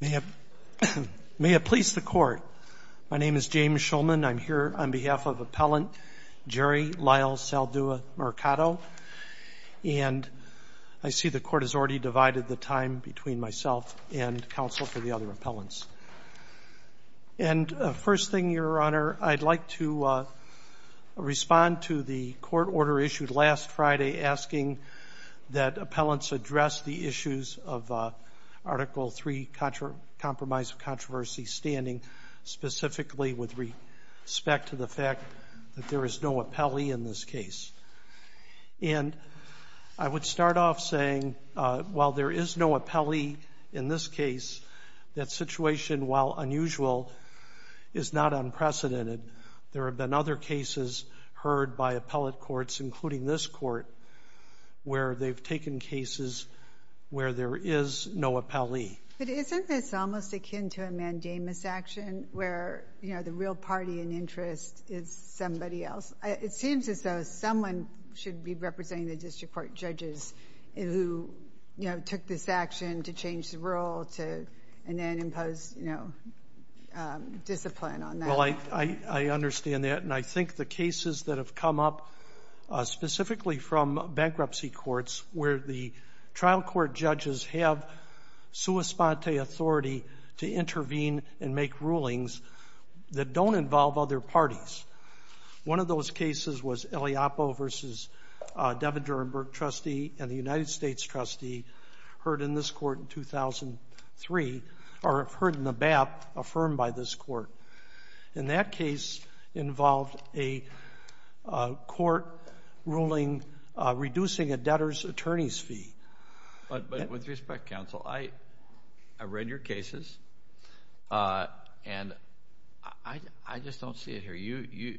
May it please the court. My name is James Shulman. I'm here on behalf of appellant Jerry Lyle Saldua Mercado and I see the court has already divided the time between myself and counsel for the other appellants. And first thing, Your Honor, I'd like to respond to the court order issued last Friday asking that Article 3 Compromise of Controversy standing specifically with respect to the fact that there is no appellee in this case. And I would start off saying while there is no appellee in this case, that situation while unusual is not unprecedented. There have been other cases heard by appellate courts including this court where they've taken cases where there is no appellee. But isn't this almost akin to a mandamus action where, you know, the real party and interest is somebody else? It seems as though someone should be representing the district court judges who, you know, took this action to change the rule to and then impose, you know, discipline on that. Well, I understand that and I think the cases that have come up specifically from bankruptcy courts where the trial court judges have sua sponte authority to intervene and make rulings that don't involve other parties. One of those cases was Eliopo versus Devin Durenberg trustee and the United States trustee heard in this court in 2003 or heard in this court. And that case involved a court ruling reducing a debtor's attorney's fee. But with respect, counsel, I read your cases and I just don't see it here.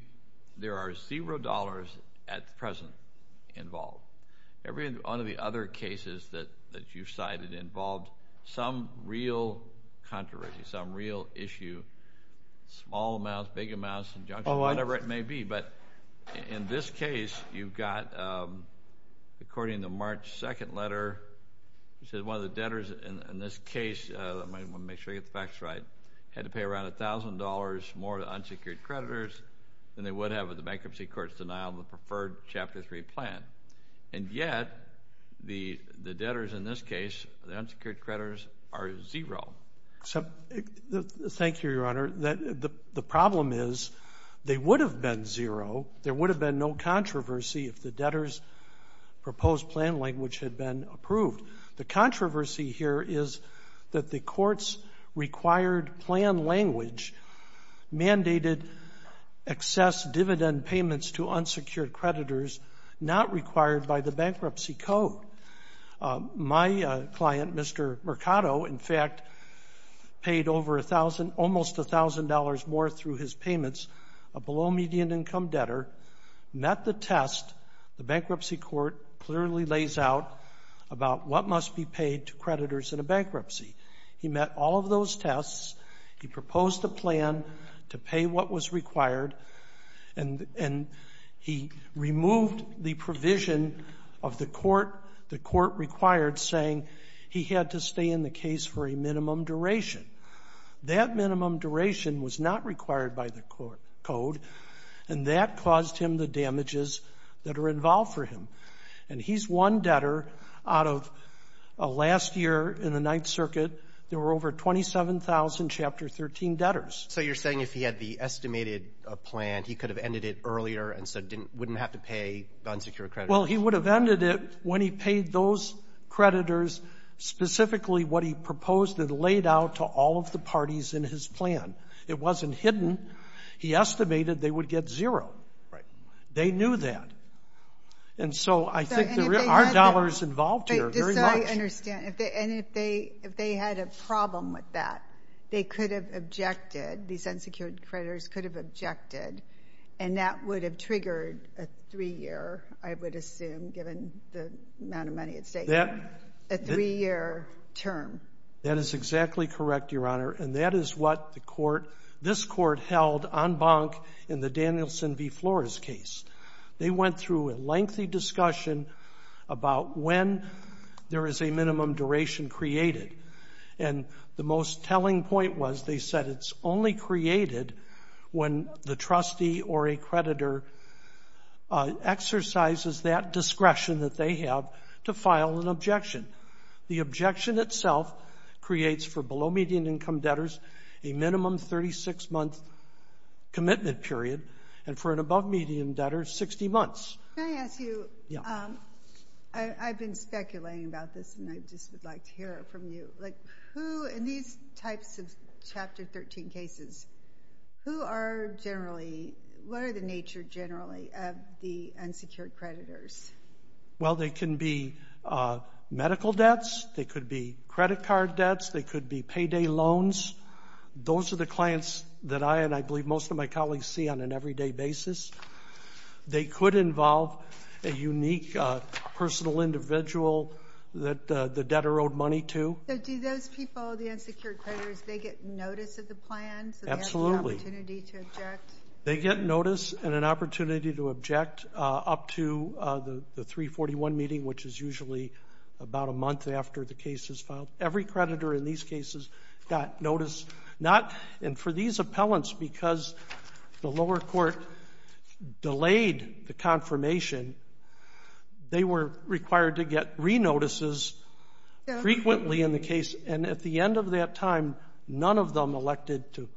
There are zero dollars at present involved. Every one of the other cases that you cited involved some real controversy, some real issue, small amounts, big amounts, whatever it may be. But in this case, you've got, according to March 2nd letter, it says one of the debtors in this case, I want to make sure you get the facts right, had to pay around $1,000 more to unsecured creditors than they would have with the bankruptcy court's denial of the deferred Chapter 3 plan. And yet, the debtors in this case, the unsecured creditors are zero. Thank you, Your Honor. The problem is they would have been zero, there would have been no controversy if the debtors' proposed plan language had been approved. The controversy here is that the court's required plan language mandated excess dividend payments to unsecured creditors not required by the bankruptcy code. My client, Mr. Mercado, in fact, paid over $1,000, almost $1,000 more through his payments, a below-median income debtor, met the test the bankruptcy court clearly lays out about what must be paid to creditors in a bankruptcy. He met all of those tests, he proposed a plan to pay what was required, and he removed the provision of the court required saying he had to stay in the case for a minimum duration. That minimum duration was not required by the code, and that caused him the damages that are involved for him. And he's one debtor out of last year in the Ninth Circuit, there were over 27,000 Chapter 13 debtors. So you're saying if he had the estimated plan, he could have ended it earlier and so wouldn't have to pay unsecured creditors? Well, he would have ended it when he paid those creditors specifically what he proposed and laid out to all of the parties in his plan. It wasn't hidden. He estimated they would get zero. Right. They knew that. And so I think there are dollars involved here very much. I understand. And if they had a problem with that, they could have objected, these unsecured creditors could have objected, and that would have triggered a three-year, I would assume, given the amount of money at stake, a three-year term. That is exactly correct, Your Honor. And that is what this court held en banc in the Danielson v. Flores case. They went through a lengthy discussion about when there is a minimum duration created. And the most telling point was they said it's only created when the trustee or a creditor exercises that discretion that they have to file an objection. The objection itself creates for below-median income debtors a minimum 36-month commitment period, and for an above-median debtor, 60 months. Can I ask you, I've been speculating about this, and I just would like to hear from you. In these types of Chapter 13 cases, who are generally, what are the nature generally of the unsecured creditors? Well, they can be medical debts, they could be credit card debts, they could be payday loans. Those are the clients that I and I believe most of my colleagues see on an everyday basis. They could involve a unique personal individual that the debtor owed money to. So do those people, the unsecured creditors, they get notice of the plan? Absolutely. So they have the opportunity to object? They get notice and an opportunity to object up to the 341 meeting, which is usually about a month after the case is filed. Every creditor in these cases got notice. And for these appellants, because the lower court delayed the confirmation, they were required to get re-notices frequently in the case, and at the end of that time, none of them elected to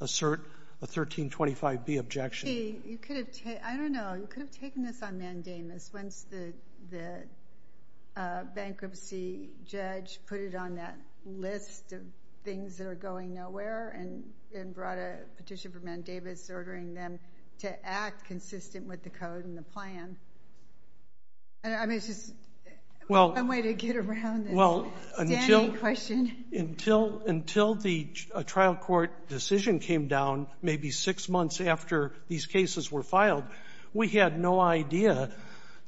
assert a 1325B objection. See, you could have, I don't know, you could have taken this on mandamus once the bankruptcy judge put it on that list of things that are going nowhere and brought a petition for mandamus ordering them to act consistent with the code and the plan. I mean, it's just one way to get around this standing question. Until the trial court decision came down, maybe six months after these cases were going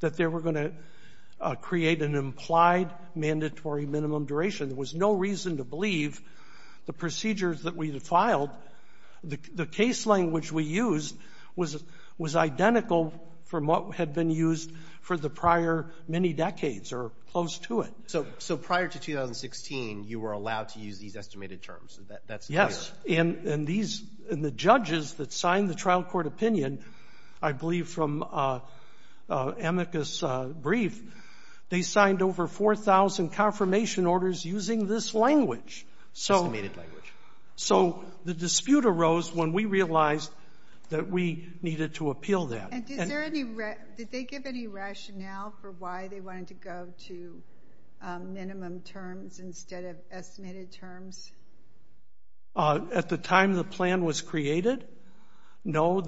to create an implied mandatory minimum duration, there was no reason to believe the procedures that we had filed, the case language we used was identical from what had been used for the prior many decades or close to it. So prior to 2016, you were allowed to use these estimated terms. That's clear. Yes. And these — and the judges that signed the trial court opinion, I believe from Amicus brief, they signed over 4,000 confirmation orders using this language. Estimated language. So the dispute arose when we realized that we needed to appeal that. And did they give any rationale for why they wanted to go to minimum terms instead of estimated terms? At the time the plan was created, no.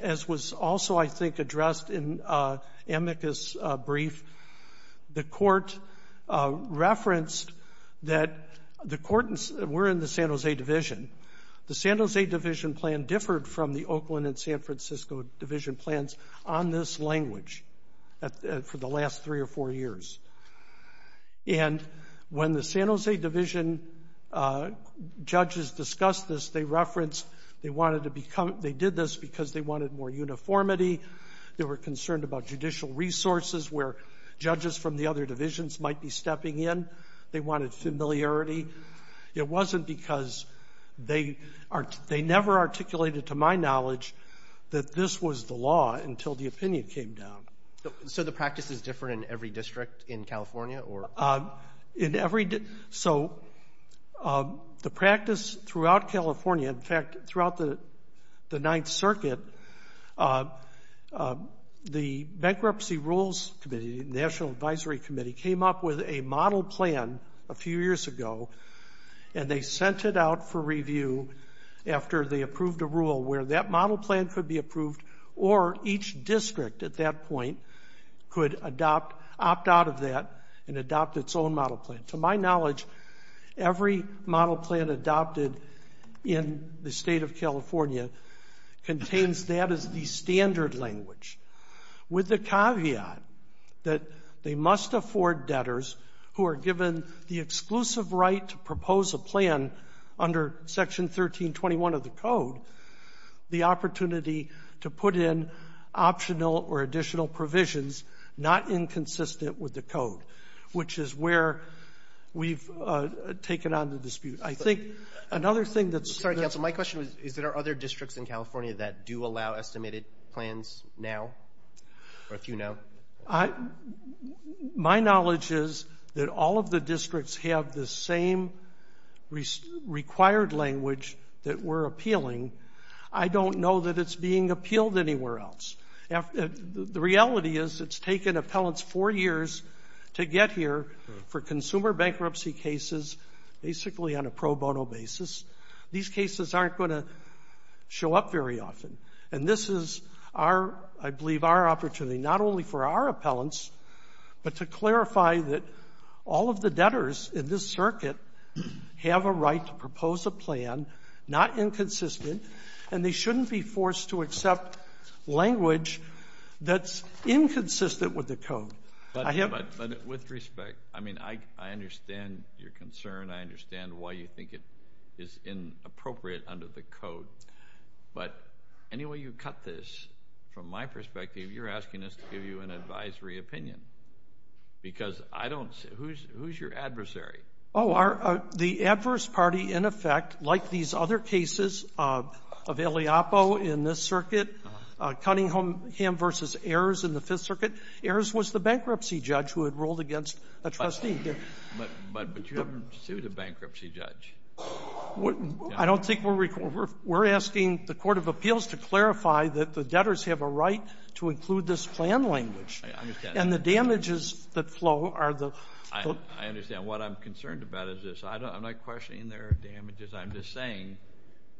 As was also, I think, addressed in Amicus brief, the court referenced that the court — we're in the San Jose division. The San Jose division plan differed from the Oakland and San Francisco division plans on this language for the last three or four years. And when the San Jose division judges discussed this, they referenced they wanted to become — they did this because they wanted more uniformity. They were concerned about judicial resources where judges from the other divisions might be stepping in. They wanted familiarity. It wasn't because — they never articulated, to my knowledge, that this was the law until the opinion came down. So the practice is different in every district in California? So the practice throughout California, in fact, throughout the Ninth Circuit, the Bankruptcy Rules Committee, the National Advisory Committee, came up with a model plan a few years ago, and they sent it out for review after they approved a rule where that district, at that point, could adopt — opt out of that and adopt its own model plan. To my knowledge, every model plan adopted in the state of California contains that as the standard language, with the caveat that they must afford debtors who are given the exclusive right to propose a plan under Section 1321 of the Code the opportunity to put in optional or additional provisions not inconsistent with the Code, which is where we've taken on the dispute. I think another thing that's — Sorry, counsel. My question is, is there other districts in California that do allow estimated plans now, or a few now? My knowledge is that all of the districts have the same required language that we're appealing. I don't know that it's being appealed anywhere else. The reality is it's taken appellants four years to get here for consumer bankruptcy cases, basically on a pro bono basis. These cases aren't going to show up very often. And this is our — I believe our opportunity, not only for our appellants, but to clarify that all of the debtors in this circuit have a right to propose a plan, not inconsistent, and they shouldn't be forced to accept language that's inconsistent with the Code. But with respect, I mean, I understand your concern. I understand why you think it is inappropriate under the Code. But any way you cut this, from my perspective, you're asking us to give you an advisory opinion, because I don't — who's your adversary? Oh, our — the adverse party, in effect, like these other cases of Eliopo in this circuit, Cunningham v. Ayers in the Fifth Circuit, Ayers was the bankruptcy judge who had ruled against a trustee. But you haven't sued a bankruptcy judge. I don't think we're — we're asking the Court of Appeals to clarify that the debtors have a right to include this plan language. I understand. And the damages that flow are the — I understand. What I'm concerned about is this. I'm not questioning their damages. I'm just saying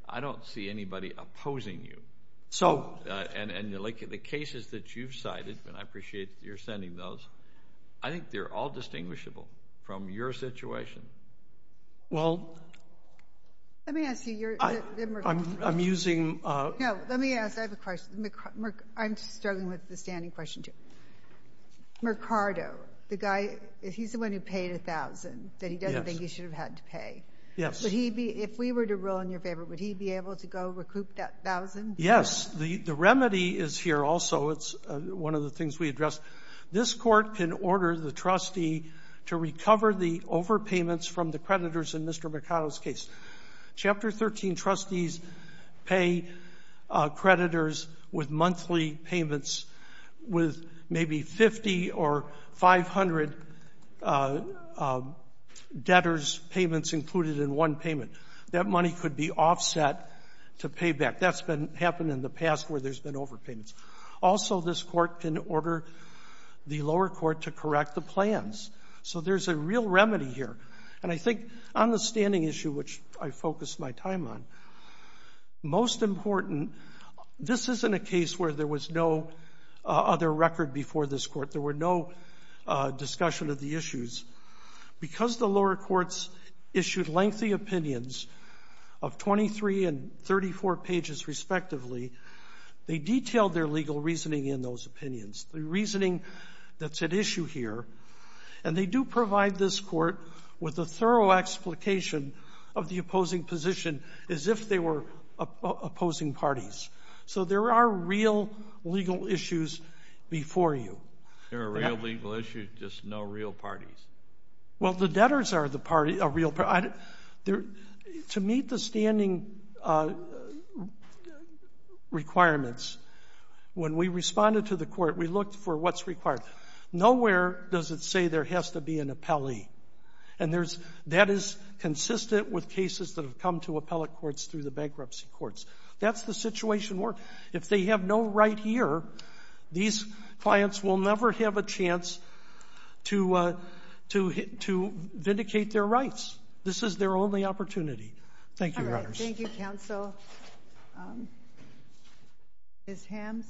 I don't see anybody opposing you. So — And, like, the cases that you've cited, and I appreciate that you're sending those, I think they're all distinguishable from your situation. Well — Let me ask you your — I'm using — No, let me ask — I have a question. I'm struggling with the standing question, too. Mercado, the guy, he's the one who paid $1,000 that he doesn't think he should have had to pay. Yes. Would he be — if we were to rule in your favor, would he be able to go recoup that $1,000? Yes. The remedy is here also. It's one of the things we address. This Court can order the trustee to recover the overpayments from the creditors in Mr. Mercado's case. Chapter 13, trustees pay creditors with monthly payments with maybe 50 or 500 debtors' payments included in one payment. That money could be offset to pay back. That's been happened in the past where there's been overpayments. Also, this Court can order the lower court to correct the plans. So there's a real remedy here. And I think on the standing issue, which I focused my time on, most important, this isn't a case where there was no other record before this Court. There were no discussion of the issues. Because the lower courts issued lengthy opinions of 23 and 34 pages respectively, they detailed their legal reasoning in those opinions, the reasoning that's at issue here. And they do provide this Court with a thorough explication of the opposing position as if they were opposing parties. So there are real legal issues before you. There are real legal issues, just no real parties? Well, the debtors are the real parties. To meet the standing requirements, when we responded to the Court, we looked for what's required. Nowhere does it say there has to be an appellee. And that is consistent with cases that have come to appellate courts through the bankruptcy courts. That's the situation where if they have no right here, these clients will never have a chance to vindicate their rights. This is their only opportunity. Thank you, Your Honors. All right. Thank you, Counsel. Ms. Hammes?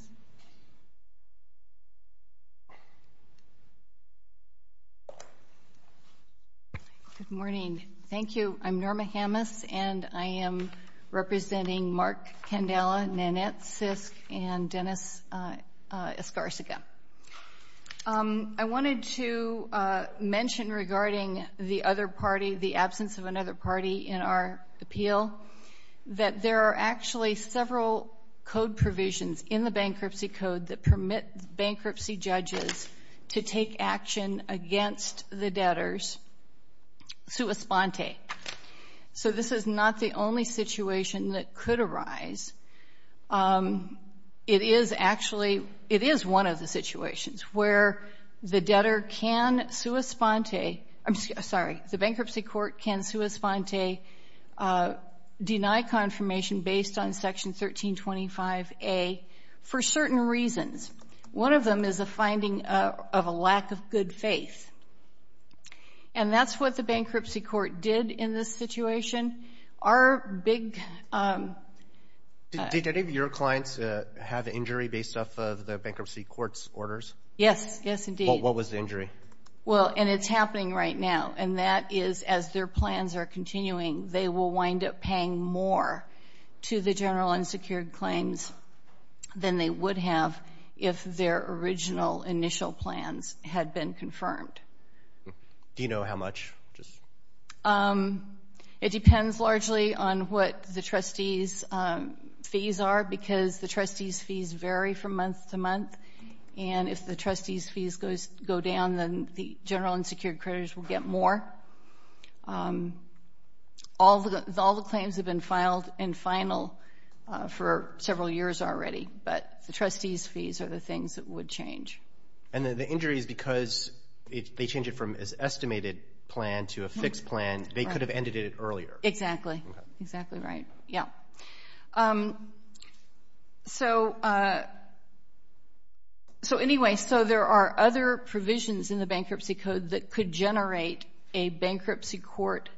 Good morning. Thank you. I'm Norma Hammes, and I am representing Mark Candela, Nanette Sisk, and Dennis Escarcega. I wanted to mention regarding the other party, the absence of another party, in our appeal, that there are actually several code provisions in the bankruptcy code that permit bankruptcy judges to take action against the debtors sua sponte. So this is not the only situation that could arise. It is actually, it is one of the situations where the debtor can sua sponte, I'm sorry, the bankruptcy court can sua sponte deny confirmation based on Section 1325A for certain reasons. One of them is a finding of a lack of good faith. And that's what the bankruptcy court did in this situation. Our big... Did any of your clients have injury based off of the bankruptcy court's orders? Yes. Yes, indeed. What was the injury? Well, and it's happening right now, and that is as their plans are continuing, they will wind up paying more to the general unsecured claims than they would have if their original initial plans had been confirmed. Do you know how much? It depends largely on what the trustees' fees are because the trustees' fees vary from month to month. The general unsecured creditors will get more. All the claims have been filed and final for several years already, but the trustees' fees are the things that would change. And the injury is because they change it from an estimated plan to a fixed plan. They could have ended it earlier. Exactly. Exactly right. Yeah. So anyway, so there are other provisions in bankruptcy code that could generate a bankruptcy court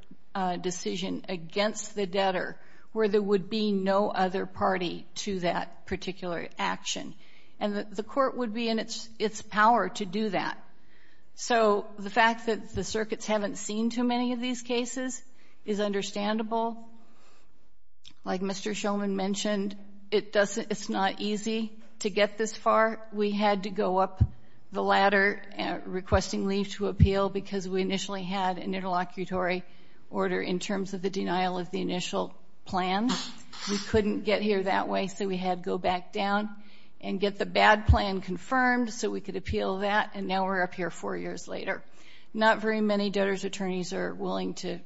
decision against the debtor where there would be no other party to that particular action. And the court would be in its power to do that. So the fact that the circuits haven't seen too many of these cases is understandable. Like Mr. Shulman mentioned, it's not easy to get this far. We had to go up the ladder requesting leave to appeal because we initially had an interlocutory order in terms of the denial of the initial plan. We couldn't get here that way, so we had to go back down and get the bad plan confirmed so we could appeal that. And now we're up here four years later. Not very many debtors' attorneys are willing to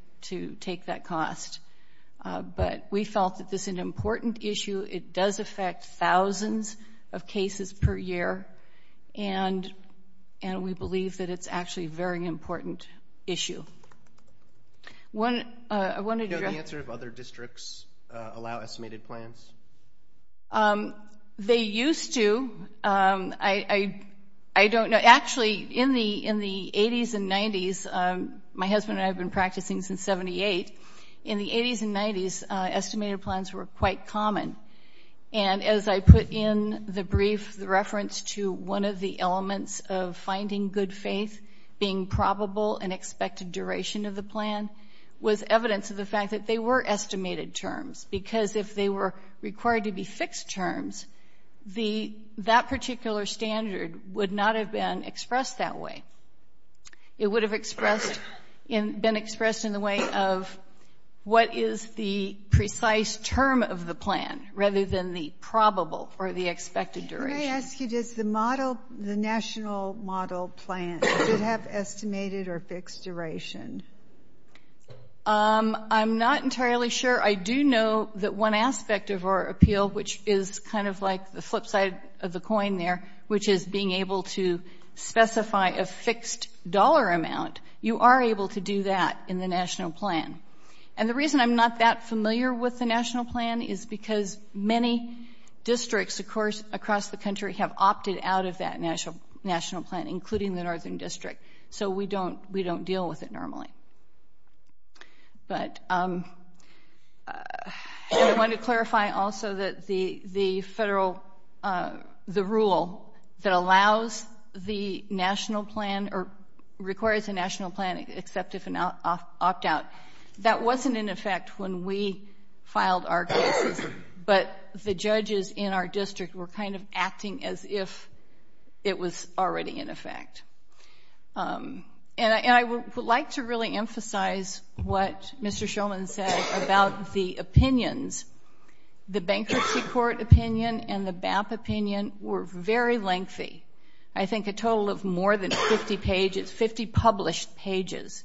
take that cost. But we felt that this is an and we believe that it's actually a very important issue. Do you know the answer if other districts allow estimated plans? They used to. I don't know. Actually, in the 80s and 90s, my husband and I have been practicing since 78. In the 80s and 90s, estimated plans were quite common. And as I put in the brief, the reference to one of the elements of finding good faith being probable and expected duration of the plan was evidence of the fact that they were estimated terms. Because if they were required to be fixed terms, that particular standard would not have been expressed that way. It would have been expressed in the way of what is the precise term of the plan, rather than the probable or the expected duration. Can I ask you, does the model, the national model plan, should have estimated or fixed duration? I'm not entirely sure. I do know that one aspect of our appeal, which is kind of like the flip side of the coin there, which is being able to specify a fixed dollar amount, you are able to do that in the national plan. And the reason I'm not that familiar with the national plan is because many districts, of course, across the country have opted out of that national plan, including the northern district. So we don't deal with it normally. But I want to clarify also that the federal, the rule that allows the national plan or requires a opt-out, that wasn't in effect when we filed our cases, but the judges in our district were kind of acting as if it was already in effect. And I would like to really emphasize what Mr. Shulman said about the opinions. The bankruptcy court opinion and the BAP opinion were very lengthy. I think a total of more than 50 pages, 50 published pages.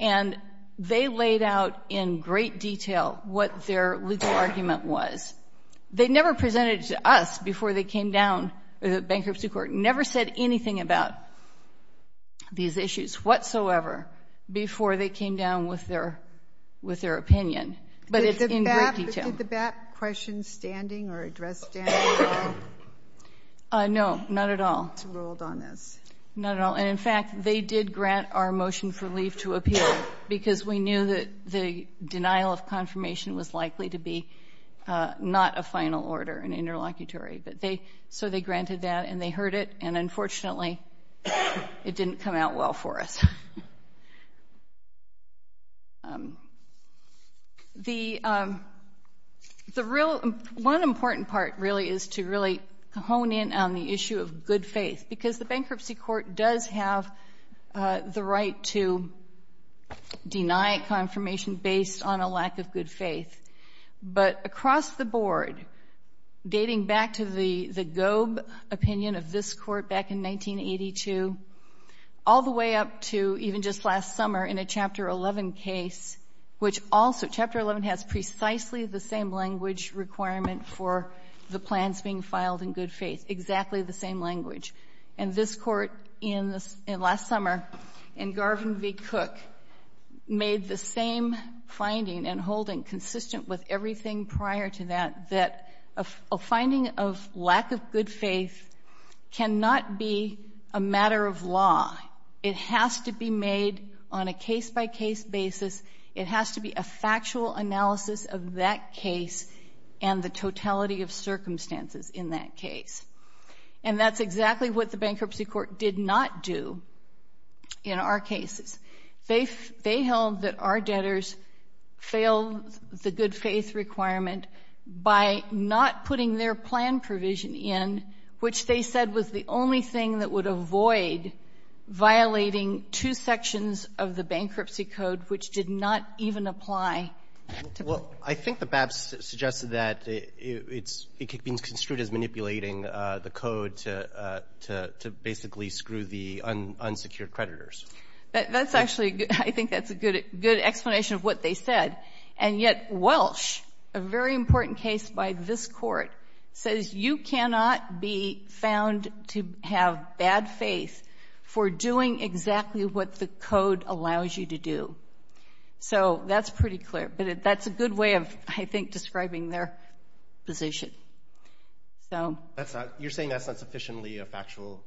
And they laid out in great detail what their legal argument was. They never presented it to us before they came down, the bankruptcy court, never said anything about these issues whatsoever before they came down with their opinion. But it's in great detail. Did the BAP question standing or address standing? No, not at all. Not at all. And in fact, they did grant our motion for leave to appeal because we knew that the denial of confirmation was likely to be not a final order, an interlocutory. But they, so they granted that and they heard it. And unfortunately, it didn't come out well for us. The real, one important part really is to really hone in on the issue of good faith, because the bankruptcy court does have the right to deny confirmation based on a lack of good faith. But across the board, dating back to the Goeb opinion of this court back in 1982, all the way up to even just last summer in a Chapter 11 case, which also, Chapter 11 has precisely the same language requirement for the plans being filed in good faith, exactly the same language. And this court in last summer, in Garvin v. Cook, made the same finding and holding consistent with everything prior to that, that a finding of lack of good faith is a matter of law. It has to be made on a case-by-case basis. It has to be a factual analysis of that case and the totality of circumstances in that case. And that's exactly what the bankruptcy court did not do in our cases. They held that our debtors failed the good faith requirement by not putting their plan provision in, which they said was the only thing that would avoid violating two sections of the bankruptcy code, which did not even apply. Well, I think the BAPS suggested that it's been construed as manipulating the code to basically screw the unsecured creditors. That's actually, I think that's a good explanation of what they said. And yet, Welsh, a very important case by this court, says you cannot be found to have bad faith for doing exactly what the code allows you to do. So, that's pretty clear. But that's a good way of, I think, describing their position. You're saying that's not sufficiently a factual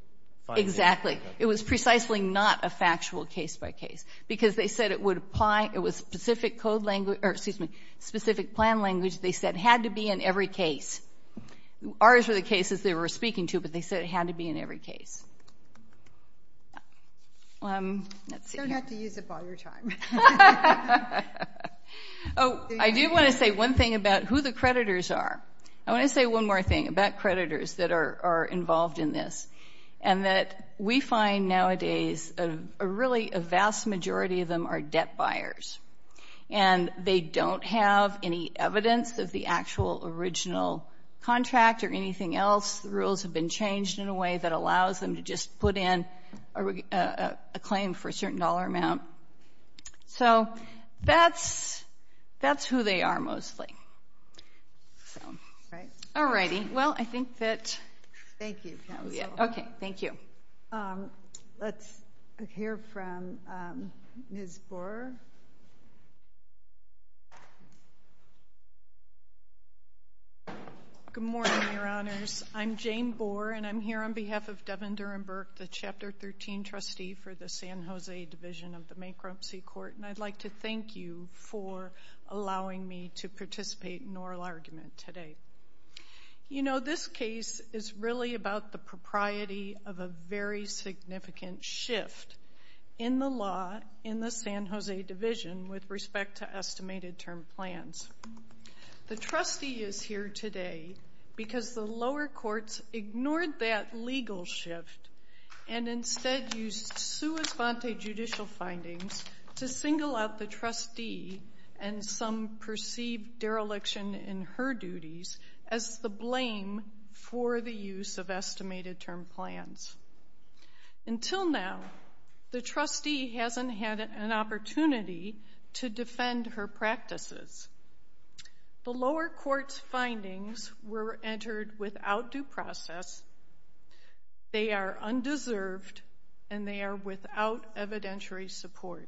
finding? Exactly. It was precisely not a factual case-by-case because they said it would apply, it was specific plan language. They said it had to be in every case. Ours were the cases they were speaking to, but they said it had to be in every case. You don't have to use it all your time. Oh, I do want to say one thing about who the creditors are. I want to say one more thing about creditors that are involved in this. And that we find nowadays, really, a vast majority of them are debt buyers. And they don't have any evidence of the actual original contract or anything else. The rules have been changed in a way that allows them to just put in a claim for a certain dollar amount. So, that's who they are, mostly. All righty. Well, I think that- Thank you. Okay. Thank you. Let's hear from Ms. Boer. Good morning, Your Honors. I'm Jane Boer, and I'm here on behalf of Devin Durenberg, the Chapter 13 trustee for the San Jose Division of the Macropsy Court. And I'd like to thank you for allowing me to participate in oral argument today. You know, this case is really about the propriety of a very significant shift in the law in the San Jose Division with respect to estimated term plans. The trustee is here today because the lower courts ignored that legal shift and instead used sua sponte judicial findings to single out the trustee and some perceived dereliction in her duties as the blame for the use of estimated term plans. Until now, the trustee hasn't had an opportunity to defend her practices. The lower court's findings were entered without due process. They are undeserved, and they are without evidentiary support.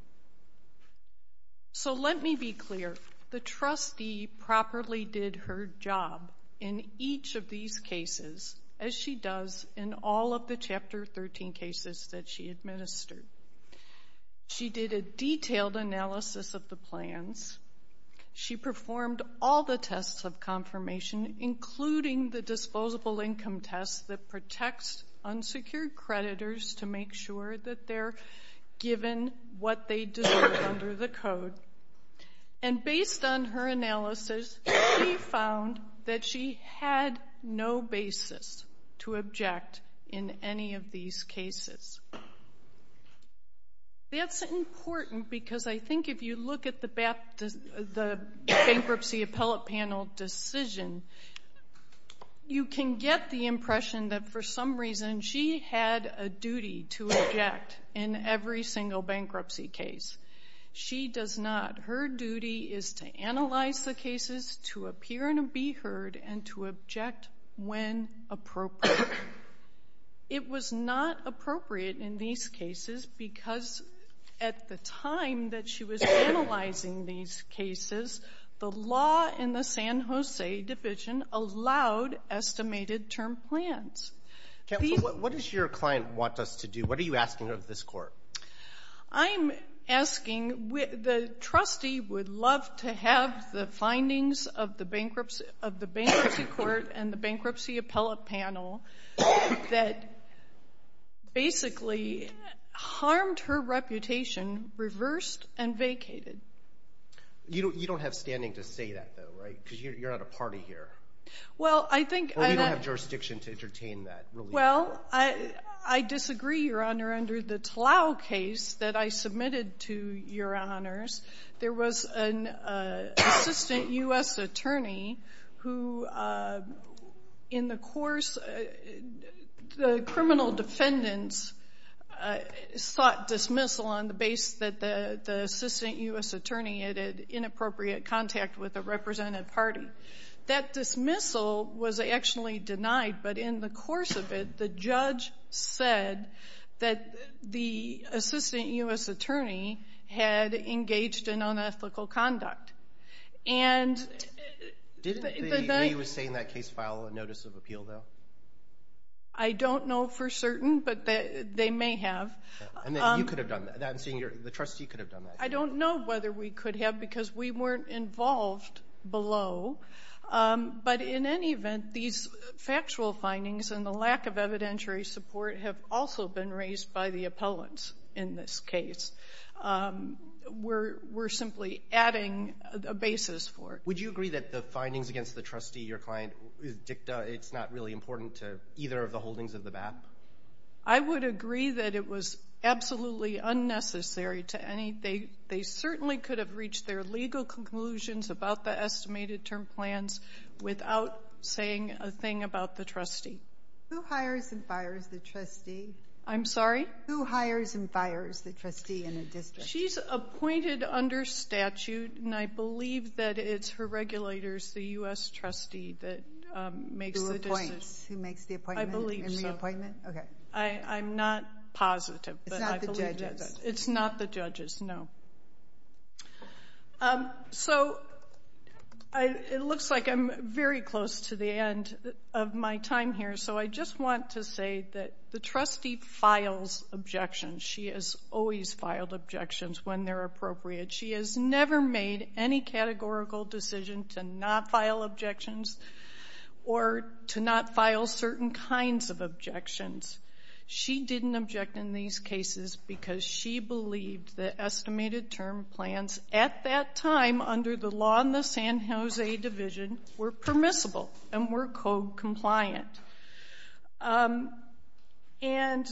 So, let me be clear. The trustee properly did her job in each of these cases as she does in all of the Chapter 13 cases that she administered. She did a detailed analysis of the plans. She performed all the tests of confirmation, including the disposable income test that under the code. And based on her analysis, she found that she had no basis to object in any of these cases. That's important because I think if you look at the bankruptcy appellate panel decision, you can get the impression that for some reason she had a duty to object in every single bankruptcy case. She does not. Her duty is to analyze the cases, to appear and be heard, and to object when appropriate. It was not appropriate in these cases because at the time that she was analyzing these cases, the law in the San Jose Division allowed estimated term plans. What does your client want us to do? What are you asking of this court? I'm asking the trustee would love to have the findings of the bankruptcy court and the bankruptcy appellate panel that basically harmed her reputation reversed and vacated. You don't have standing to say that, though, right? Because you're not a party here. Well, I think— Well, I disagree, Your Honor. Under the Talal case that I submitted to Your Honors, there was an assistant U.S. attorney who, in the course—the criminal defendants sought dismissal on the basis that the assistant U.S. attorney had inappropriate contact with a representative party. That dismissal was actually denied, but in the course of it, the judge said that the assistant U.S. attorney had engaged in unethical conduct. Didn't the lady who was saying that case file a notice of appeal, though? I don't know for certain, but they may have. And you could have done that. I'm saying the trustee could have done that. I don't know whether we could have because we weren't involved below, but in any event, these factual findings and the lack of evidentiary support have also been raised by the appellants in this case. We're simply adding a basis for it. Would you agree that the findings against the trustee, your client, is dicta—it's not really important to either of the holdings of the BAP? I would agree that it was absolutely unnecessary to any—they certainly could have reached their legal conclusions about the estimated term plans without saying a thing about the trustee. Who hires and fires the trustee? I'm sorry? Who hires and fires the trustee in a district? She's appointed under statute, and I believe that it's her regulators, the U.S. trustee, that makes the— Who appoints, who makes the appointment and reappointment? I'm not positive. It's not the judges. It's not the judges, no. So it looks like I'm very close to the end of my time here, so I just want to say that the trustee files objections. She has always filed objections when they're appropriate. She has never made any categorical decision to not file objections or to not file certain kinds of objections. She didn't object in these cases because she believed the estimated term plans at that time under the law in the San Jose division were permissible and were co-compliant. And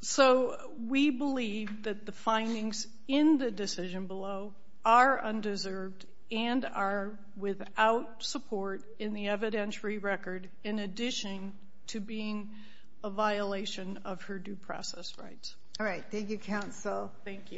so we believe that the findings in the decision below are undeserved and are without support in the evidentiary record, in addition to being a violation of her due process rights. All right. Thank you, counsel. Thank you.